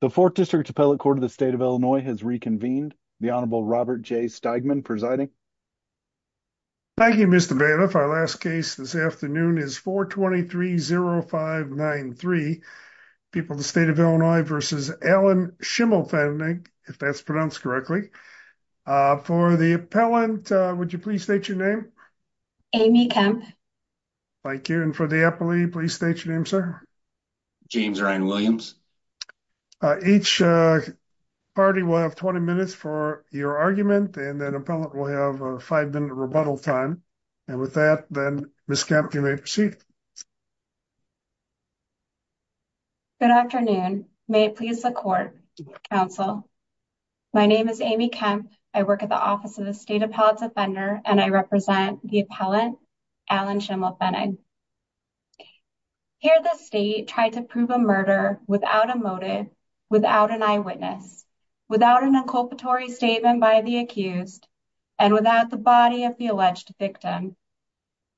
The 4th District Appellate Court of the State of Illinois has reconvened. The Honorable Robert J. Steigman presiding. Thank you, Mr. Bailiff. Our last case this afternoon is 423-0593, People of the State of Illinois v. Allen Schimmelfennig, if that's pronounced correctly. For the appellant, would you please state your name? Amy Kemp. Thank you. And for the appellee, please state your name, sir. James Ryan Williams. Each party will have 20 minutes for your argument, and then the appellant will have a five-minute rebuttal time. And with that, then, Ms. Kemp, you may proceed. Good afternoon. May it please the Court, Council. My name is Amy Kemp. I work at the Office of the State Appellate Defender, and I represent the appellant, Allen Schimmelfennig. Here, the state tried to prove a murder without a motive, without an eyewitness, without an inculpatory statement by the accused, and without the body of the alleged victim.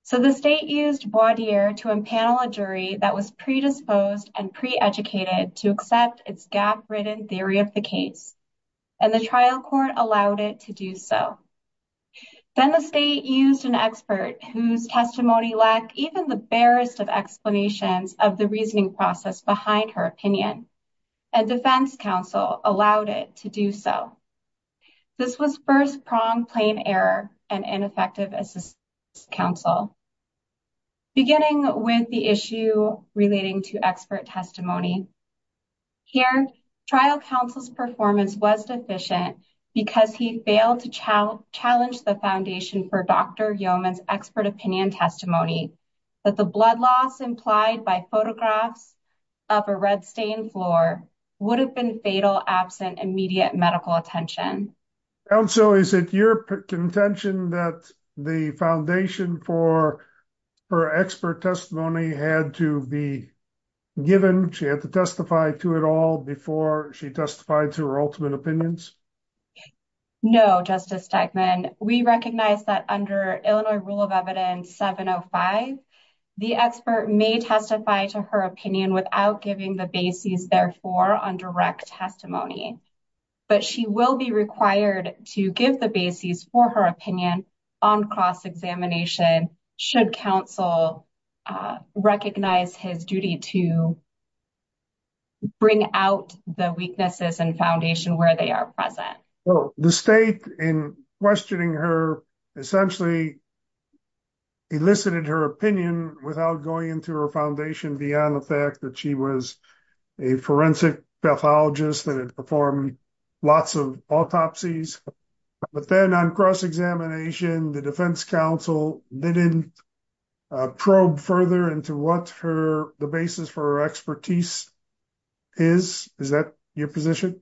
So the state used voir dire to impanel a jury that was predisposed and pre-educated to accept its gap-ridden theory of the case, and the trial court allowed it to do so. Then the state used an expert whose testimony lacked even the barest of explanations of the reasoning process behind her opinion, and defense counsel allowed it to do so. This was first-pronged plain error and ineffective assistance to counsel. Beginning with the issue relating to expert testimony, here, trial counsel's performance was deficient because he failed to challenge the foundation for Dr. Yeoman's expert opinion testimony that the blood loss implied by photographs of a red-stained floor would have been fatal absent immediate medical attention. Counsel, is it your contention that the foundation for her expert testimony had to be given? She had to testify to it all before she testified to her ultimate opinions? No, Justice Steigman. We recognize that under Illinois Rule of Evidence 705, the expert may testify to her opinion without giving the basis, therefore, on direct testimony, but she will be required to give the basis for her opinion on cross-examination should counsel recognize his duty to bring out the weaknesses and foundation where they are present. The state, in questioning her, essentially elicited her opinion without going into her foundation beyond the fact that she was a forensic pathologist that had performed lots of autopsies, but then on cross-examination, the defense counsel didn't probe further into what the basis for her expertise is. Is that your position?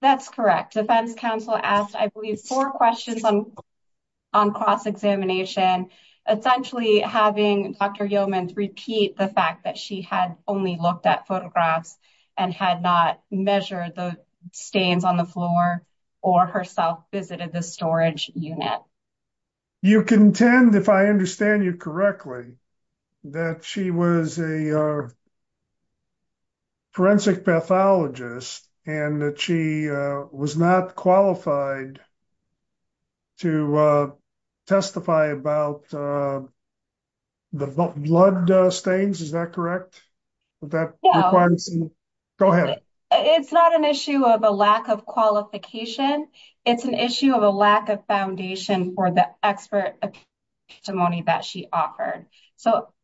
That's correct. Defense counsel asked, I believe, four questions on cross-examination, essentially having Dr. Yeoman repeat the fact that she had only looked at photographs and had not measured the stains on the floor or herself visited the storage unit. You contend, if I understand you correctly, that she was a forensic pathologist and that she was not qualified to testify about the blood stains. Is that correct? Go ahead. It's not an issue of a lack of qualification. It's an issue of a lack of foundation for the expert testimony that she offered.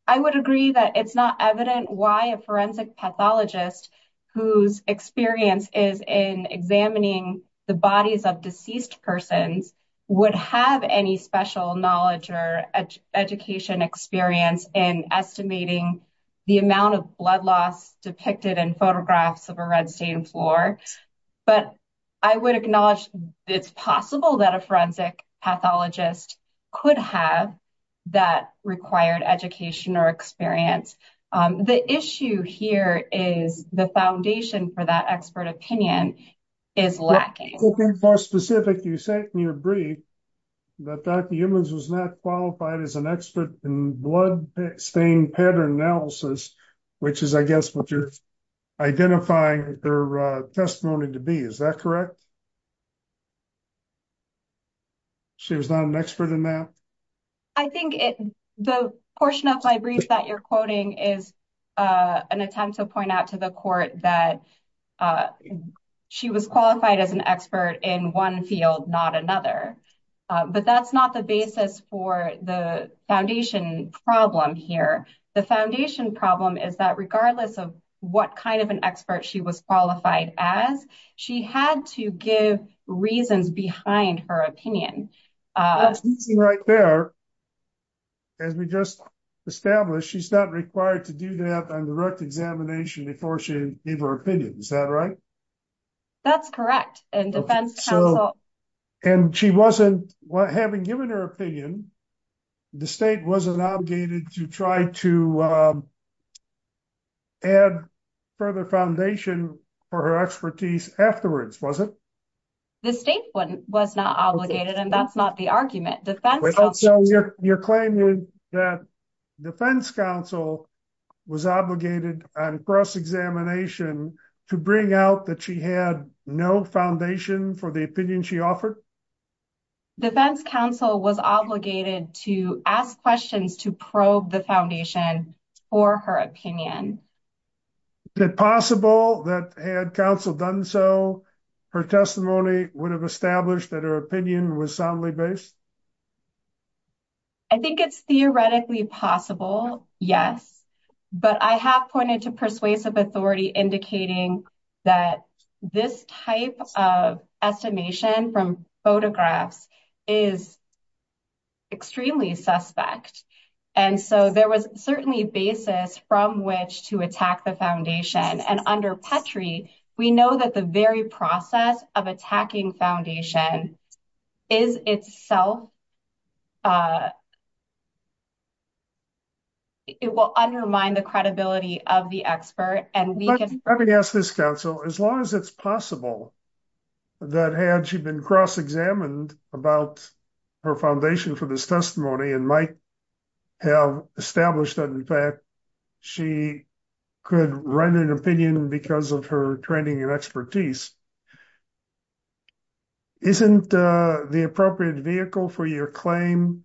I would agree that it's not evident why a forensic pathologist whose experience is in examining the bodies of deceased persons would have any special knowledge or education experience in estimating the amount of blood loss depicted in photographs of a red stain floor, but I would acknowledge it's possible that a forensic pathologist could have that required education or experience. The issue here is the foundation for that expert opinion is lacking. More specific, you said in your brief that Dr. Yeoman was not qualified as an expert in blood stain pattern analysis, which is, I guess, what you're identifying her testimony to be. Is that correct? She was not an expert in that? I think the portion of my brief that you're quoting is an attempt to point out to the court that she was qualified as an expert in one field, not another, but that's not the basis for the foundation problem here. The foundation problem is that regardless of what kind of an expert she was qualified as, she had to give reasons behind her opinion. As we just established, she's not required to do that on direct examination before she gave her opinion. Is that right? That's correct. Having given her opinion, the state wasn't obligated to try to add further foundation for her expertise afterwards, was it? The state was not obligated and that's not the argument. You're claiming that defense counsel was obligated on cross examination to bring out that she had no foundation for the opinion she offered? Defense counsel was not obligated to ask questions to probe the foundation for her opinion. Is it possible that had counsel done so, her testimony would have established that her opinion was soundly based? I think it's theoretically possible, yes, but I have pointed to persuasive authority indicating that this type of estimation from photographs is extremely suspect. There was certainly a basis from which to attack the foundation. Under Petrie, we know that the very process of attacking counsel, as long as it's possible, that had she been cross examined about her foundation for this testimony and might have established that in fact she could run an opinion because of her training and expertise, isn't the appropriate vehicle for your claim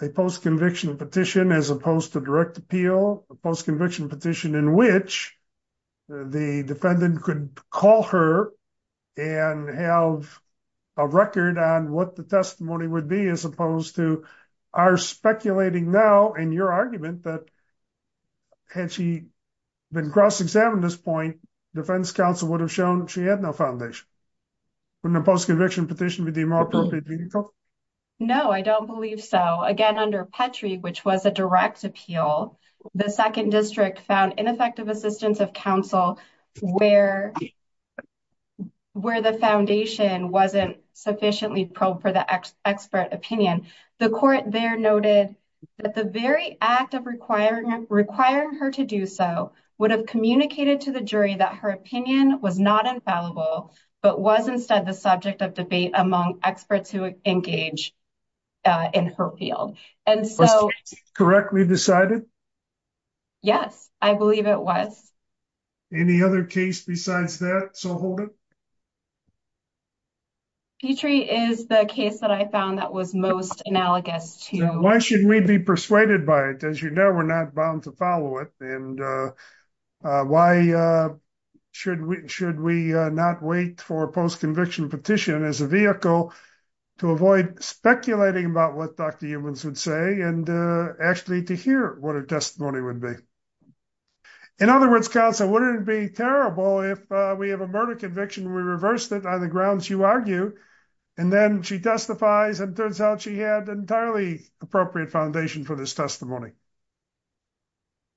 a post conviction petition as opposed to direct appeal? A post conviction petition in which the defendant could call her and have a record on what the testimony would be as opposed to our speculating now in your argument that had she been cross examined at this point, defense counsel would have shown she had no foundation. Wouldn't a post conviction petition be the more appropriate vehicle? No, I don't believe so. Again, under Petrie, which was a direct appeal, the second district found ineffective assistance of counsel where the foundation wasn't sufficiently probed for the expert opinion. The court there noted that the very act of requiring her to do so would have communicated to the jury that her opinion was not infallible, but was instead the subject of debate among experts who engage in her field. And so. Correctly decided? Yes, I believe it was. Any other case besides that? So hold it. Petrie is the case that I found that was most analogous to. Why should we be persuaded by it? As you know, we're not bound to follow it. And why should we not wait for a post conviction petition as a vehicle to avoid speculating about what doctor humans would say and actually to hear what her testimony would be? In other words, counsel, wouldn't it be terrible if we have a murder conviction? We reversed it on the grounds you argue, and then she testifies and turns out she had entirely appropriate foundation for this testimony.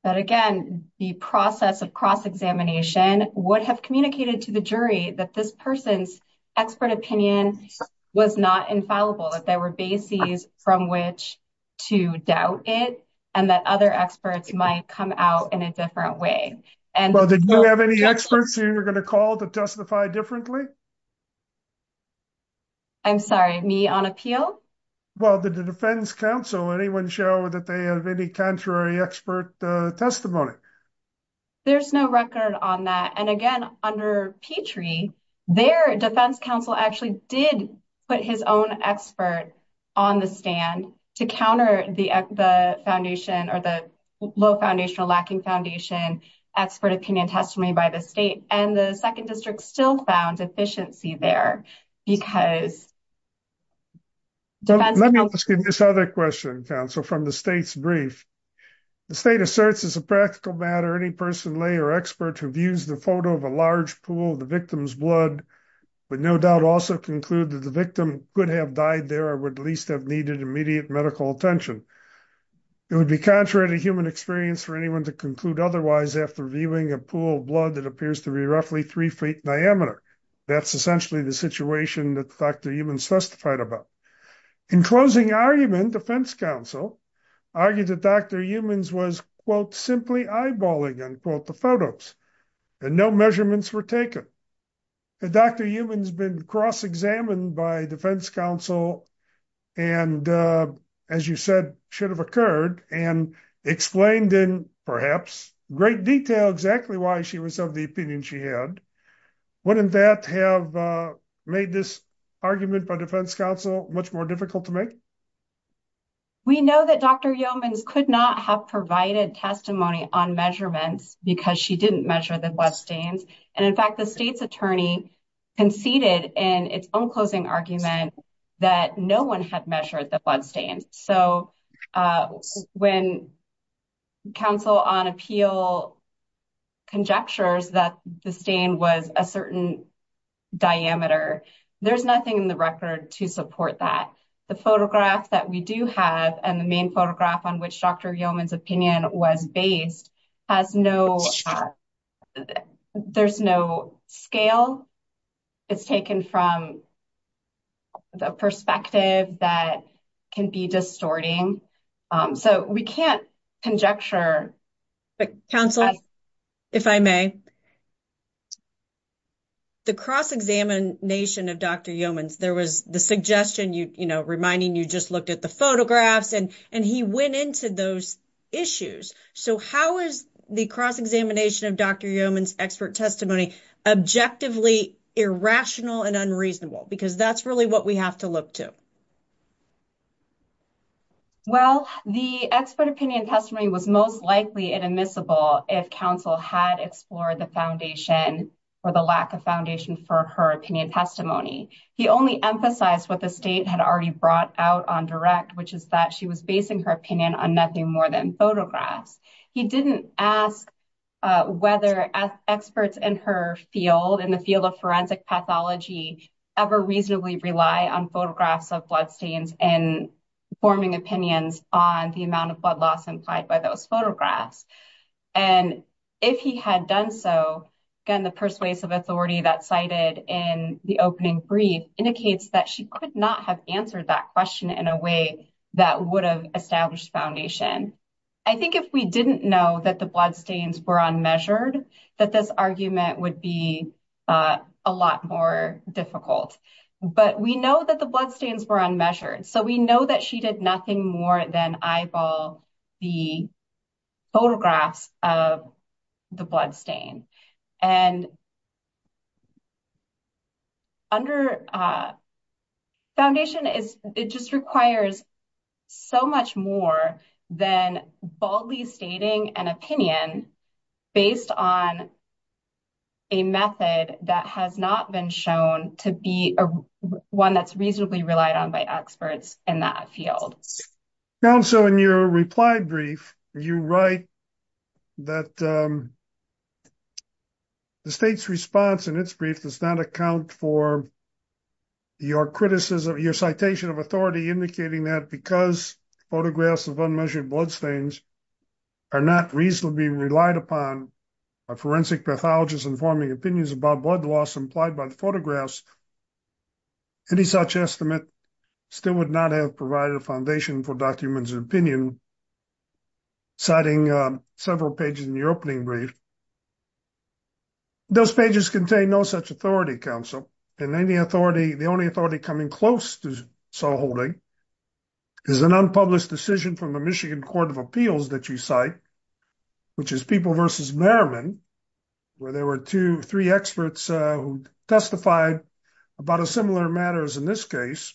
But again, the process of cross examination would have communicated to the jury that this person's expert opinion was not infallible, that there were bases from which to doubt it, and that other experts might come out in a different way. And well, did you have any experts who you're going to call to testify differently? I'm sorry, me on appeal? Well, the defense counsel, anyone show that they have any contrary expert testimony? There's no record on that. And again, under Petrie, their defense counsel actually did put his own expert on the stand to counter the foundation or the low foundational lacking foundation, expert opinion testimony by the state and the second district still found efficiency there. Let me ask this other question, counsel, from the state's brief. The state asserts as a practical matter, any person, lay or expert who views the photo of a large pool of the victim's blood would no doubt also conclude that the victim could have died there or would at least have needed immediate medical attention. It would be contrary to human experience for anyone to conclude otherwise after viewing a pool of blood that appears to be roughly three feet in diameter. That's essentially the situation that Dr. Eumann testified about. In closing argument, defense counsel argued that Dr. Eumann was, quote, simply eyeballing, unquote, the photos and no measurements were taken. Dr. Eumann has been cross-examined by defense counsel and, as you said, should have occurred and explained in perhaps great detail exactly why she was of the opinion she had. Wouldn't that have made this argument by defense counsel much more difficult to make? We know that Dr. Eumann could not have provided testimony on measurements because she didn't measure the blood stains and, in fact, the state's attorney conceded in its own closing argument that no one had measured the blood stains. So when counsel on appeal conjectures that the stain was a certain diameter, there's nothing in the record to support that. The photograph that we do have and the main photograph on which Dr. Eumann's opinion was based has no, there's no scale. It's taken from the perspective that can be distorting. So we can't conjecture. But counsel, if I may, the cross-examination of Dr. Eumann's, there was the suggestion, you know, reminding you just looked at the photographs, and he went into those issues. So how is the cross-examination of Dr. Eumann's expert testimony objectively irrational and unreasonable? Because that's really what we have to look to. Well, the expert opinion testimony was most likely inadmissible if counsel had explored the foundation or the lack of foundation for her opinion testimony. He only emphasized what the state had already brought out on direct, which is that she was basing her opinion on nothing more than photographs. He didn't ask whether experts in her field, in the field of forensic pathology, ever reasonably rely on photographs of bloodstains and forming opinions on the amount of blood loss implied by those photographs. And if he had done so, again, the persuasive authority that cited in the opening brief indicates that she could not have answered that question in a way that would have established foundation. I think if we didn't know that the bloodstains were unmeasured, that this argument would be a lot more difficult. But we know that the bloodstains were unmeasured. So we know that she did nothing more than eyeball the photographs of the bloodstain. And under foundation, it just requires so much more than boldly stating an opinion based on a method that has not been shown to be one that's reasonably relied on by experts in that field. Counsel, in your reply brief, you write that the state's response in its brief does not account for your criticism, your citation of authority indicating that because photographs of unmeasured bloodstains are not reasonably relied upon by forensic pathologists informing opinions about blood loss implied by the photographs, any such estimate still would not have provided a foundation for documents of opinion, citing several pages in your opening brief. Those pages contain no such authority, counsel. And the only authority coming close to so holding is an unpublished decision from the Michigan Court of Appeals that you cite, which is People versus Merriman, where there were two, three experts who testified about a similar matters in this case,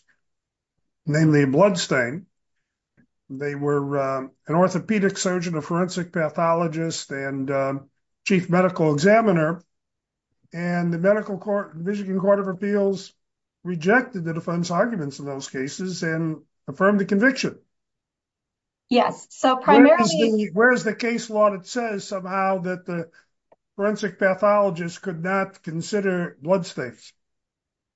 namely bloodstain. They were an orthopedic surgeon, a forensic pathologist, and chief medical examiner. And the medical court, the Michigan Court of Appeals rejected the defense arguments in those cases and affirmed the conviction. Yes. So primarily, where's the case law that says somehow that the forensic pathologist could not consider bloodstains?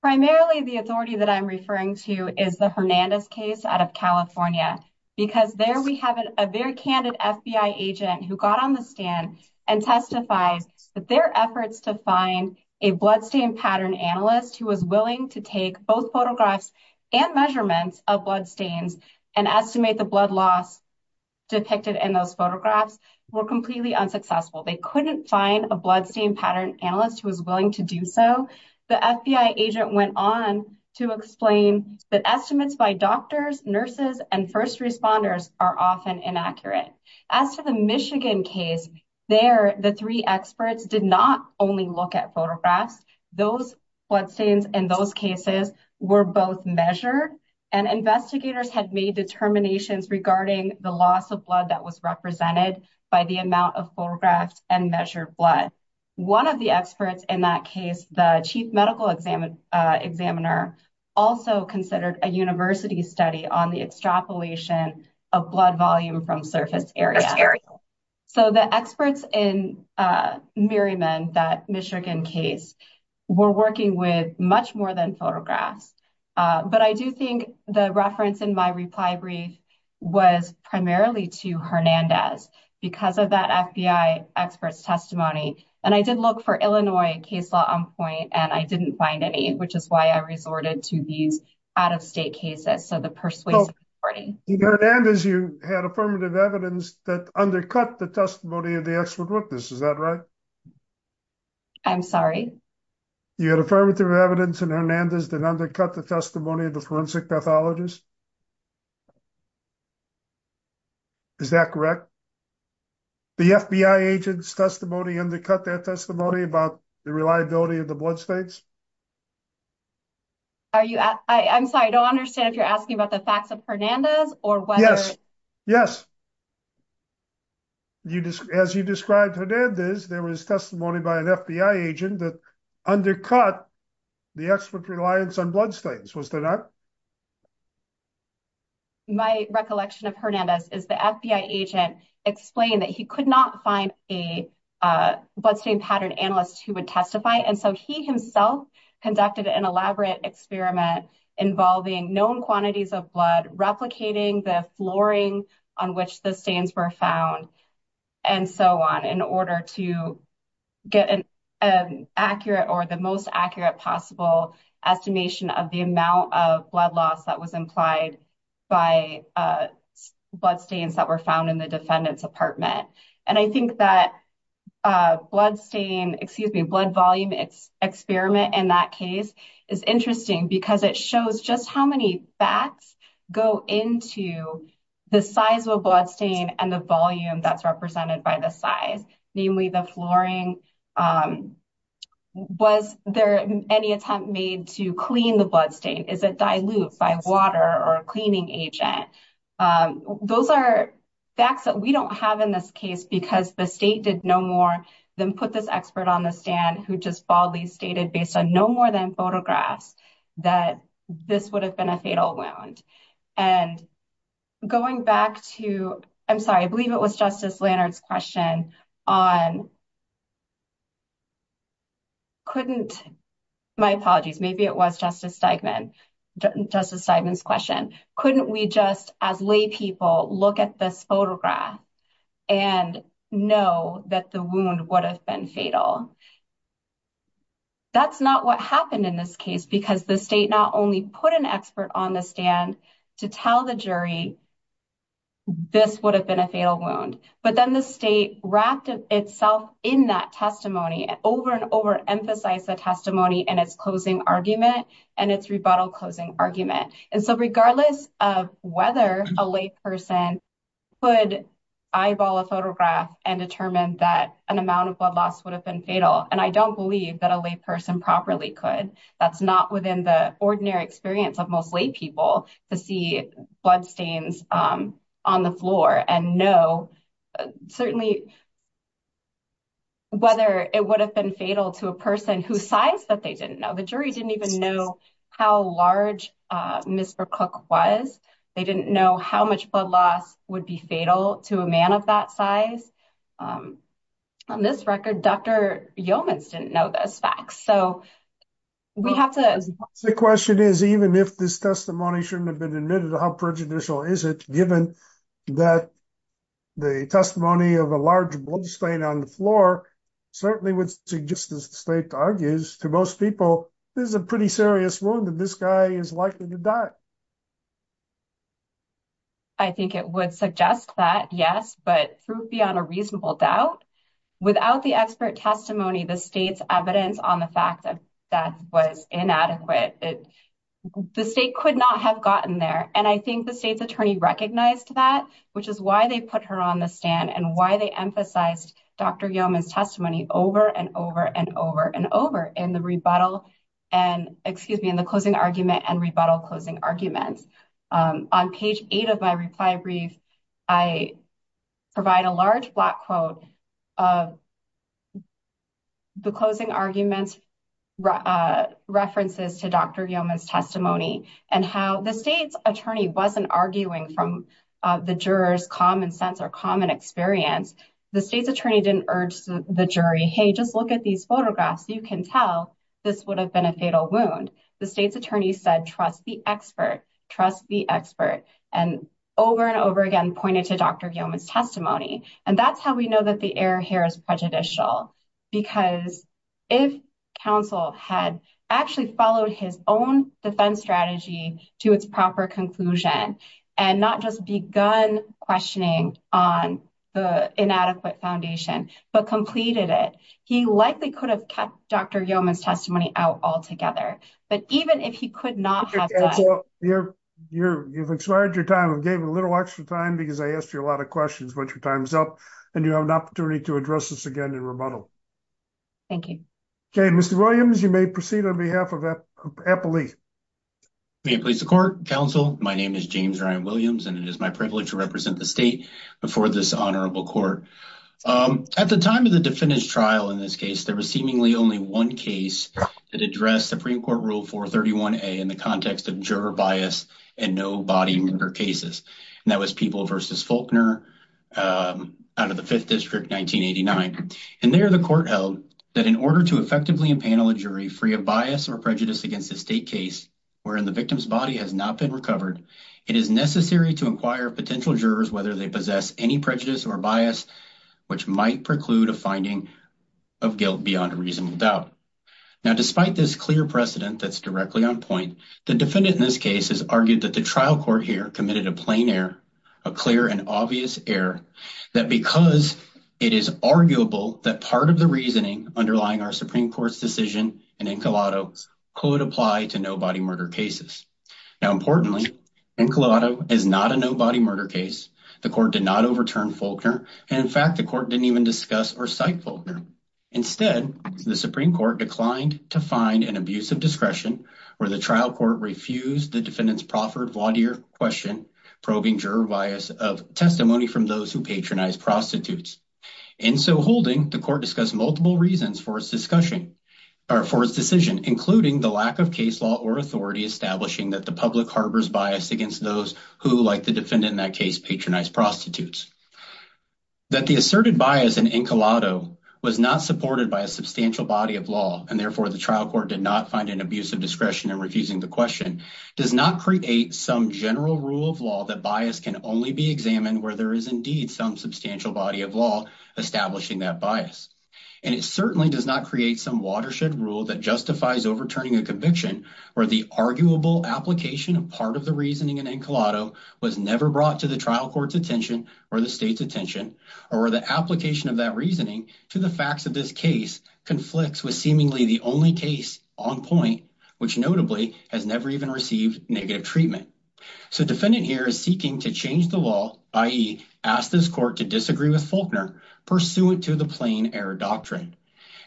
Primarily, the authority that I'm referring to is the Hernandez case out of California, because there we have a very candid FBI agent who got on the stand and testifies that their efforts to find a bloodstain pattern analyst who was willing to take both photographs and measurements of bloodstains and estimate the blood loss depicted in those photographs were completely unsuccessful. They couldn't find a bloodstain pattern analyst who was willing to do so. The FBI agent went on to explain that estimates by doctors, nurses, and first responders are often inaccurate. As for the Michigan case, there, the three experts did not only look at photographs. Those bloodstains in those cases were both measured and investigators had made determinations regarding the loss of blood that was represented by the amount of photographs and measured blood. One of the experts in that case, the chief medical examiner, also considered a university study on the extrapolation of blood volume from surface area. So the experts in Merriman, that Michigan case, were working with much more than photographs. But I do think the reference in my reply brief was primarily to Hernandez because of that FBI expert's testimony. And I did look for Illinois case law on point, and I didn't find any, which is why I resorted to these out-of-state cases. So the persuasive reporting... Well, in Hernandez you had affirmative evidence that undercut the testimony of the expert witness, is that right? I'm sorry? You had affirmative evidence in Hernandez that undercut the testimony of the forensic pathologist? Is that correct? The FBI agent's testimony undercut their testimony about the reliability of the bloodstains? Are you... I'm sorry, I don't understand if you're asking about the facts of Hernandez or whether... Yes, yes. As you described Hernandez, there was testimony by an FBI agent that undercut the expert reliance on bloodstains, was there not? My recollection of Hernandez is the FBI agent explained that he could not find a bloodstain pattern analyst who would testify. And so he himself conducted an elaborate experiment involving known quantities of blood, replicating the flooring on which the stains were found, and so on, in order to get an accurate or the most accurate possible estimation of the amount of blood loss that was implied by bloodstains that were found in the defendant's apartment. And I think that bloodstain... Excuse me, blood volume experiment in that case is interesting because it shows just how many facts go into the size of a bloodstain and the volume that's represented by the size, namely the flooring. Was there any attempt made to clean the bloodstain? Is it dilute by water or a cleaning agent? Those are facts that we don't have in this case because the state did no more than put this expert on the stand who just boldly stated based on no more than photographs that this would have been a fatal wound. And going back to... I'm sorry, I believe it was Justice Lannert's question on... Couldn't... My apologies, maybe it was Justice Steigman's question. Couldn't we just, as lay people, look at this photograph and know that the wound would have been fatal? That's not what happened in this case because the state not only put an expert on the stand to tell the jury this would have been a fatal wound, but then the state wrapped itself in that testimony and over and over emphasized the testimony in its closing argument and its rebuttal closing argument. And so regardless of whether a lay person could eyeball a photograph and determine that an amount of blood loss would have been fatal, and I don't believe that a lay bloodstains on the floor and know certainly whether it would have been fatal to a person whose size that they didn't know. The jury didn't even know how large Ms. McCook was. They didn't know how much blood loss would be fatal to a man of that size. On this record, Dr. Yeomans didn't know those facts. So we have to... The question is, even if this testimony shouldn't have been admitted, how prejudicial is it, given that the testimony of a large bloodstain on the floor certainly would suggest, as the state argues, to most people, this is a pretty serious wound and this guy is likely to die. I think it would suggest that, yes, but beyond a reasonable doubt, without the expert testimony, the state's evidence on the fact that that was inadequate, the state could not have gotten there. And I think the state's attorney recognized that, which is why they put her on the stand and why they emphasized Dr. Yeomans' testimony over and over and over and over in the rebuttal and... Excuse me, in the closing argument and rebuttal of the closing argument's references to Dr. Yeomans' testimony and how the state's attorney wasn't arguing from the juror's common sense or common experience. The state's attorney didn't urge the jury, hey, just look at these photographs. You can tell this would have been a fatal wound. The state's attorney said, trust the expert, trust the expert, and over and over again pointed to Dr. Yeomans' testimony. And that's how we know that the error here is prejudicial, because if counsel had actually followed his own defense strategy to its proper conclusion and not just begun questioning on the inadequate foundation, but completed it, he likely could have kept Dr. Yeomans' testimony out altogether. But even if he could not have done... You've expired your time. I gave a little extra time because I asked you a lot of questions, but your time's up, and you have an opportunity to address this again in rebuttal. Thank you. Okay, Mr. Williams, you may proceed on behalf of Appalachia. May it please the court, counsel. My name is James Ryan Williams, and it is my privilege to represent the state before this honorable court. At the time of the defendant's trial, in this case, there was seemingly only one case that addressed Supreme Court Rule 431a in the context of juror bias and no-body murder cases, and that was People v. Faulkner out of the Fifth District, 1989. And there, the court held that in order to effectively impanel a jury free of bias or prejudice against a state case wherein the victim's body has not been recovered, it is necessary to inquire of potential jurors whether they possess any prejudice or bias which might preclude a finding of guilt beyond a reasonable doubt. Now, despite this clear precedent that's directly on point, the defendant in this case has argued that the trial court here committed a plain error, a clear and obvious error, that because it is arguable that part of the reasoning underlying our Supreme Court's decision in Encolado could apply to no-body murder cases. Now, importantly, Encolado is not a no-body murder case. The court did not overturn Faulkner, and in fact, the court didn't even discuss or cite Faulkner. Instead, the Supreme Court declined to find an abuse of discretion where the trial court refused the defendant's proffered voir dire question probing juror bias of testimony from those who patronize prostitutes. In so holding, the court discussed multiple reasons for its decision, including the lack of case law or authority establishing that the public harbors bias against those who, like the defendant in that case, patronize prostitutes. That the asserted bias in Encolado was not supported by a substantial body of law, and therefore the trial court did not find an abuse of discretion in refusing the question, does not create some general rule of law that bias can only be examined where there is indeed some substantial body of law establishing that bias. And it certainly does not create some watershed rule that justifies overturning a conviction where the arguable application of the reasoning in Encolado was never brought to the trial court's attention or the state's attention or the application of that reasoning to the facts of this case conflicts with seemingly the only case on point, which notably has never even received negative treatment. So the defendant here is seeking to change the law, i.e. ask this court to disagree with Faulkner pursuant to the plain error doctrine.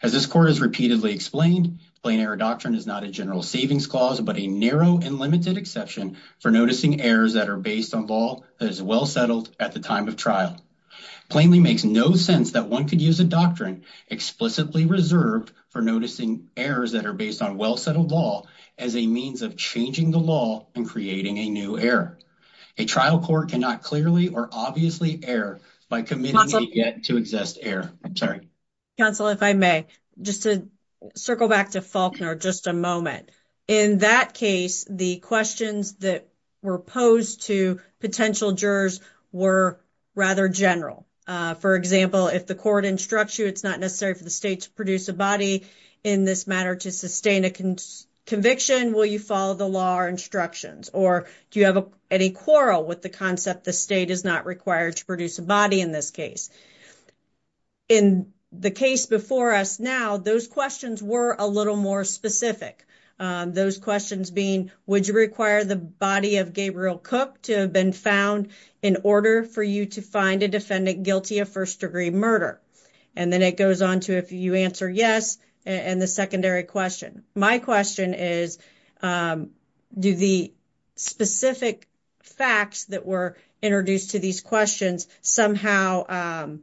As this court has repeatedly explained, plain error doctrine is not a general savings clause but a narrow and limited exception for noticing errors that are based on law that is well settled at the time of trial. Plainly makes no sense that one could use a doctrine explicitly reserved for noticing errors that are based on well-settled law as a means of changing the law and creating a new error. A trial court cannot clearly or obviously err by committing yet to I'm sorry. Counsel, if I may, just to circle back to Faulkner just a moment. In that case, the questions that were posed to potential jurors were rather general. For example, if the court instructs you it's not necessary for the state to produce a body in this matter to sustain a conviction, will you follow the law or instructions? Or do you have any quarrel with the concept the state is not required to produce a body in this case? In the case before us now, those questions were a little more specific. Those questions being would you require the body of Gabriel Cook to have been found in order for you to find a defendant guilty of first-degree murder? And then it goes on to if you answer yes and the secondary question. My question is do the specific facts that were introduced to these questions somehow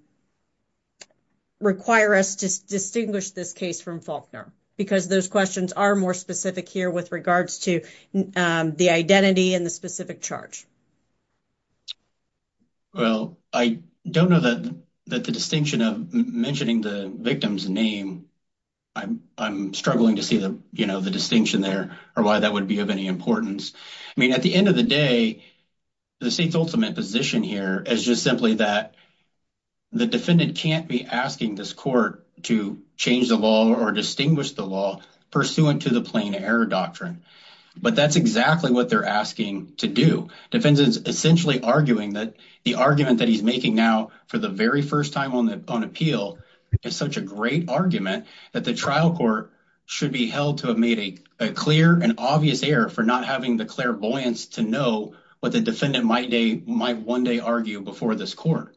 require us to distinguish this case from Faulkner? Because those questions are more specific here with regards to the identity and the specific charge. Well, I don't know that the distinction of mentioning the victim's name. I'm struggling to see the distinction there or why that would be of any importance. I mean, at the end of the day, the state's ultimate position here is just simply that the defendant can't be asking this court to change the law or distinguish the law pursuant to the plain error doctrine. But that's exactly what they're asking to do. Defendants are essentially arguing that the argument that he's making now for the very first time on appeal is such a great argument that the trial court should be held to have made a clear and obvious error for not having the clairvoyance to know what the defendant might one day argue before this court.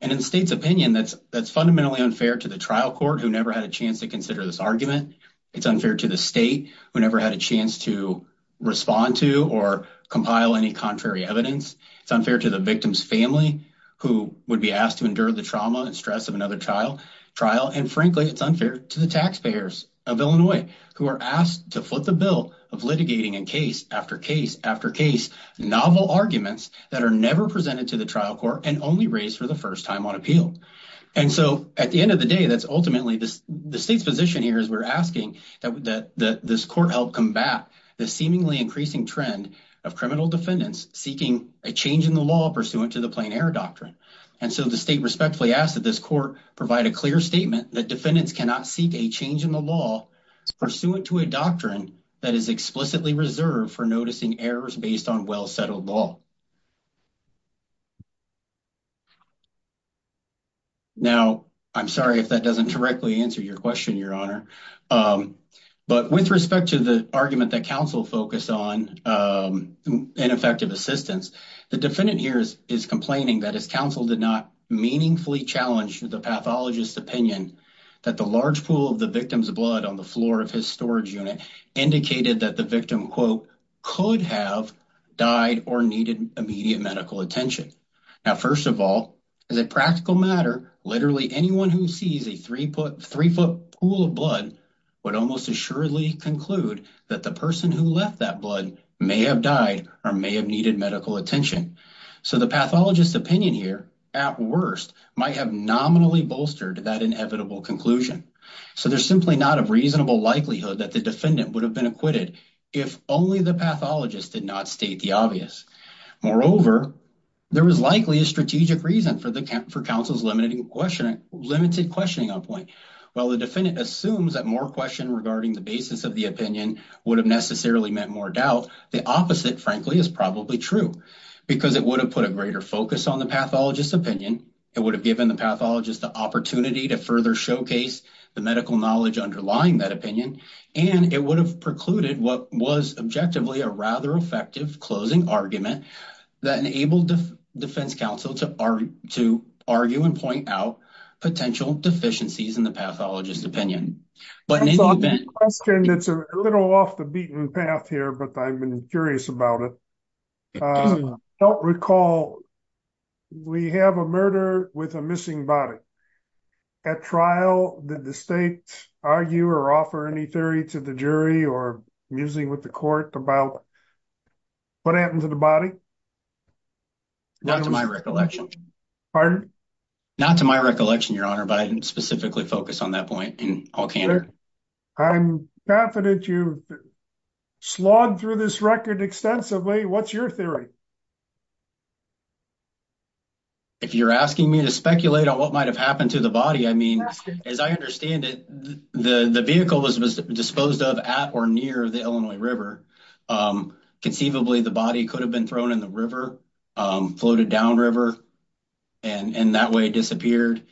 And in state's opinion, that's fundamentally unfair to the trial court who never had a chance to consider this argument. It's unfair to the state who never had a chance to respond to or compile any contrary evidence. It's unfair to the victim's family who would be asked to endure the trauma and stress of another trial. And frankly, it's unfair to the taxpayers of Illinois who are asked to foot the bill of litigating in case after case after case, novel arguments that are never presented to the trial court and only raised for the first time on appeal. And so at the end of the day, that's ultimately the state's position here is we're asking that this court help combat the seemingly increasing trend of criminal defendants seeking a change in the law pursuant to the plain error doctrine. And so the state respectfully asked that this court provide a clear statement that defendants cannot seek a change in the law pursuant to a doctrine that is explicitly reserved for noticing errors based on well-settled law. Now, I'm sorry if that doesn't directly answer your question, your honor. But with respect to the argument that counsel focused on ineffective assistance, the defendant here is complaining that his counsel did not meaningfully challenge the pathologist's opinion that the large pool of the victim's blood on the floor of his storage unit indicated that the victim, quote, could have died or needed immediate medical attention. Now, first of all, as a practical matter, literally anyone who sees a three-foot pool of blood would almost assuredly conclude that the person who left that blood may have died or may have needed medical attention. So the pathologist's opinion here, at worst, might have nominally bolstered that inevitable conclusion. So there's simply not a reasonable likelihood that the defendant would have been acquitted if only the pathologist did not state the obvious. Moreover, there was likely a strategic reason for counsel's limited questioning on point. While the defendant assumes that more question regarding the basis of the opinion would have necessarily meant more doubt, the opposite, frankly, is probably true because it would have put a greater focus on the pathologist's opinion. It would have given the pathologist the opportunity to further showcase the medical knowledge underlying that opinion. And it would have precluded what was objectively a rather effective closing argument that enabled the defense counsel to argue and point out potential deficiencies in the pathologist's opinion. But in the event... It's a little off the beaten path here, but I'm curious about it. I don't recall, we have a murder with a missing body. At trial, did the state argue or offer any to the jury or musing with the court about what happened to the body? Not to my recollection, your honor, but I didn't specifically focus on that point. I'm confident you've slogged through this record extensively. What's your theory? If you're asking me to speculate on what might have happened to the body, I mean, as I understand it, the vehicle was disposed of at or near the Illinois River. Conceivably, the body could have been thrown in the river, floated downriver, and in that way disappeared.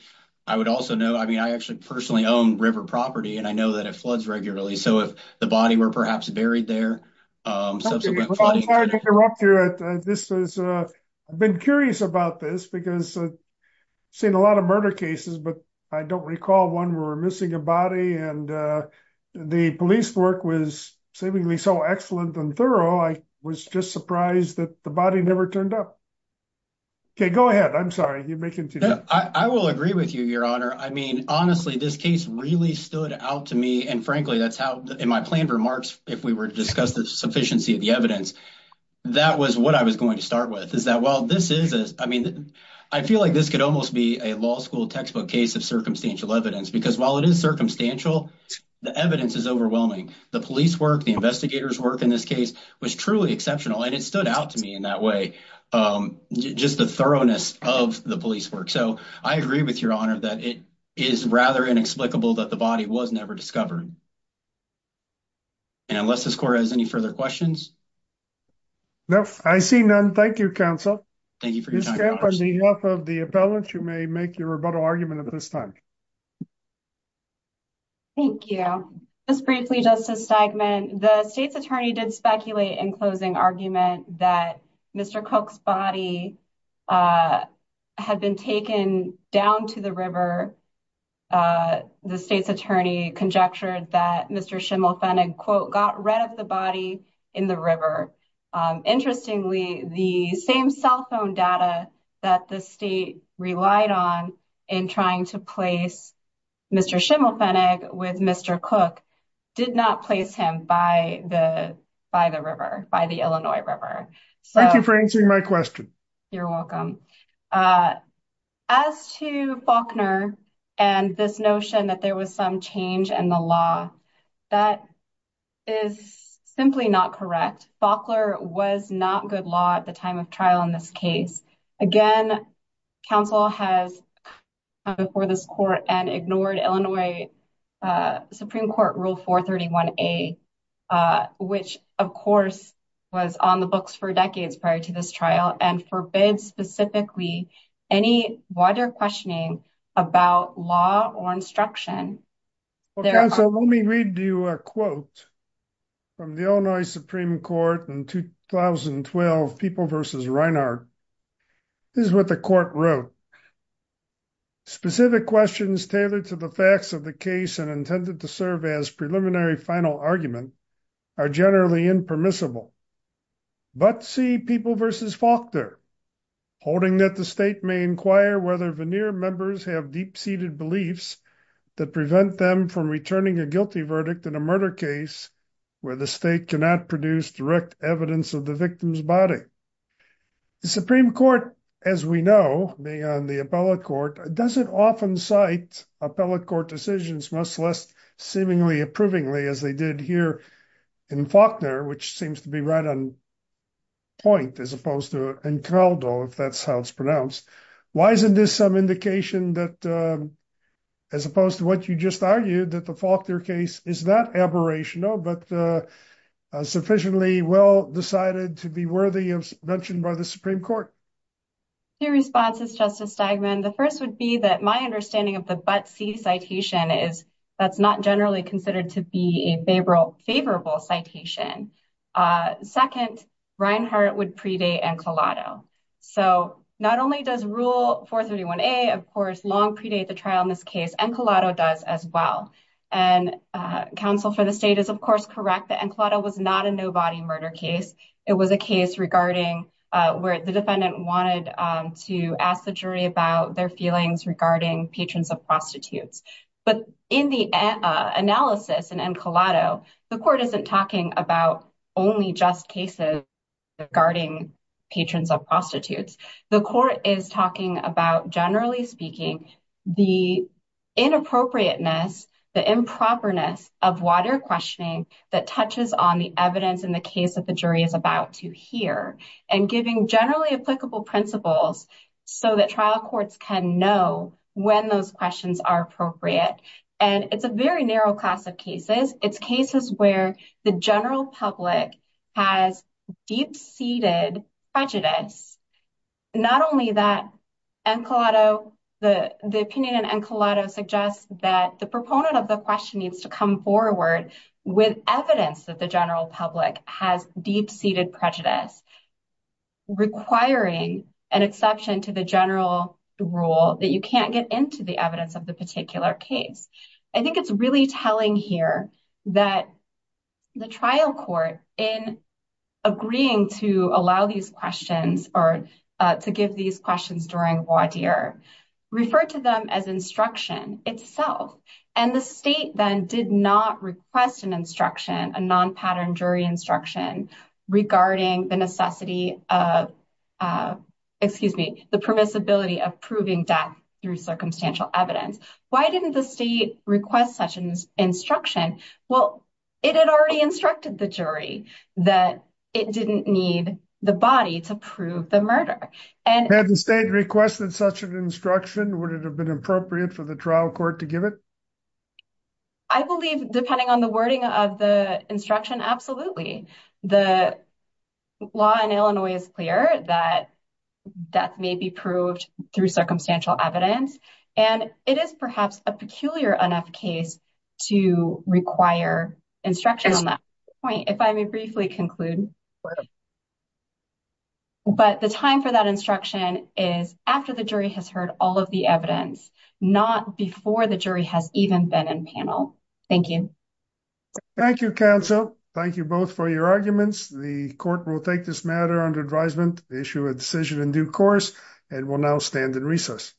I would also note, I mean, I actually personally own river property and I know that it floods regularly. So if the body were perhaps buried there... I'm sorry to interrupt you. This is... I've been curious about this because I've seen a lot of murder cases, but I don't recall one where we're missing a body and the police work was seemingly so excellent and thorough. I was just surprised that the body never turned up. Okay, go ahead. I'm sorry. You may continue. I will agree with you, your honor. I mean, honestly, this case really stood out to me. And frankly, that's how in my planned remarks, if we were to discuss the sufficiency of the evidence, that was what I was going to start with is that while this is, I mean, I feel like this could almost be a law school textbook case of circumstantial evidence because while it is circumstantial, the evidence is overwhelming. The police work, the investigators work in this case was truly exceptional and it stood out to me in that way. Just the thoroughness of the police work. So I agree with your honor that it is rather inexplicable that the body was never discovered. And unless this court has any further questions. No, I see none. Thank you, counsel. Thank you for your time. On behalf of the appellant, you may make your rebuttal argument at this time. Thank you. Just briefly, Justice Steigman, the state's attorney did speculate in closing argument that Mr. Cook's body had been taken down to the river. The state's attorney conjectured that Mr. Schimmel-Fennig quote, got rid of the body in the river. Interestingly, the same cell phone data that the state relied on in trying to place Mr. Schimmel-Fennig with Mr. Cook did not place him by the river, by the Illinois River. Thank you for answering my question. You're welcome. As to Faulkner and this notion that there was some change in the law, that is simply not correct. Faulkner was not good law at the time of trial in this case. Again, counsel has come before this court and ignored Illinois Supreme Court Rule 431A, which of course was on the books for decades prior to this trial and forbids specifically any wider questioning about law or instruction. Counsel, let me read you a quote from the Illinois Supreme Court in 2012, People v. Reinhart. This is what the court wrote. Specific questions tailored to the facts of the case and intended to serve as preliminary final argument are generally impermissible, but see People v. Faulkner, holding that the state may inquire whether veneer members have deep-seated beliefs that prevent them from returning a guilty verdict in a murder case where the state cannot produce direct evidence of the victim's body. The Supreme Court, as we know, being on the appellate court, doesn't often cite appellate court decisions, much less seemingly approvingly as they did here in Faulkner, which seems to be right on point as opposed to Encraldo, if that's how it's pronounced. Why isn't this some indication that, as opposed to what you just argued, that the Faulkner case is not aberrational but sufficiently well decided to be worthy of mention by the Supreme Court? Two responses, Justice Steigman. The first would be that my understanding of the but-see citation is that's not generally considered to be a favorable citation. Second, Reinhart would predate Encraldo. So not only does Rule 431A, of course, long predate the trial in this case, Encraldo does as well. And counsel for the state is, of course, correct that Encraldo was not a no-body murder case. It was a case regarding where the defendant wanted to ask the jury about their feelings regarding patrons of prostitutes. But in the analysis in Encraldo, the court isn't talking about only just cases regarding patrons of prostitutes. The court is talking about, generally speaking, the inappropriateness, the improperness of water questioning that touches on the evidence in the case that the jury is about to hear and giving generally applicable principles so that trial courts can know when those questions are appropriate. And it's a very general rule that the general public has deep-seated prejudice. Not only that, Encraldo, the opinion in Encraldo suggests that the proponent of the question needs to come forward with evidence that the general public has deep-seated prejudice, requiring an exception to the general rule that you can't get into the evidence of the particular case. I think it's really telling here that the trial court, in agreeing to allow these questions or to give these questions during voir dire, referred to them as instruction itself. And the state then did not request an instruction, a non-pattern jury instruction, regarding the necessity of, excuse me, the permissibility of proving death through circumstantial evidence. Why didn't the state request such an instruction? Well, it had already instructed the jury that it didn't need the body to prove the murder. Had the state requested such an instruction, would it have been appropriate for the trial court to give it? I believe, depending on the wording of the instruction, absolutely. The law in Illinois is clear that death may be proved through circumstantial evidence, and it is perhaps a peculiar enough case to require instruction on that point, if I may briefly conclude. But the time for that instruction is after the jury has heard all of the evidence, not before the jury has even been in panel. Thank you. Thank you, counsel. Thank you both for your arguments. The court will take this matter under advisement, issue a decision in due course, and will now stand in recess.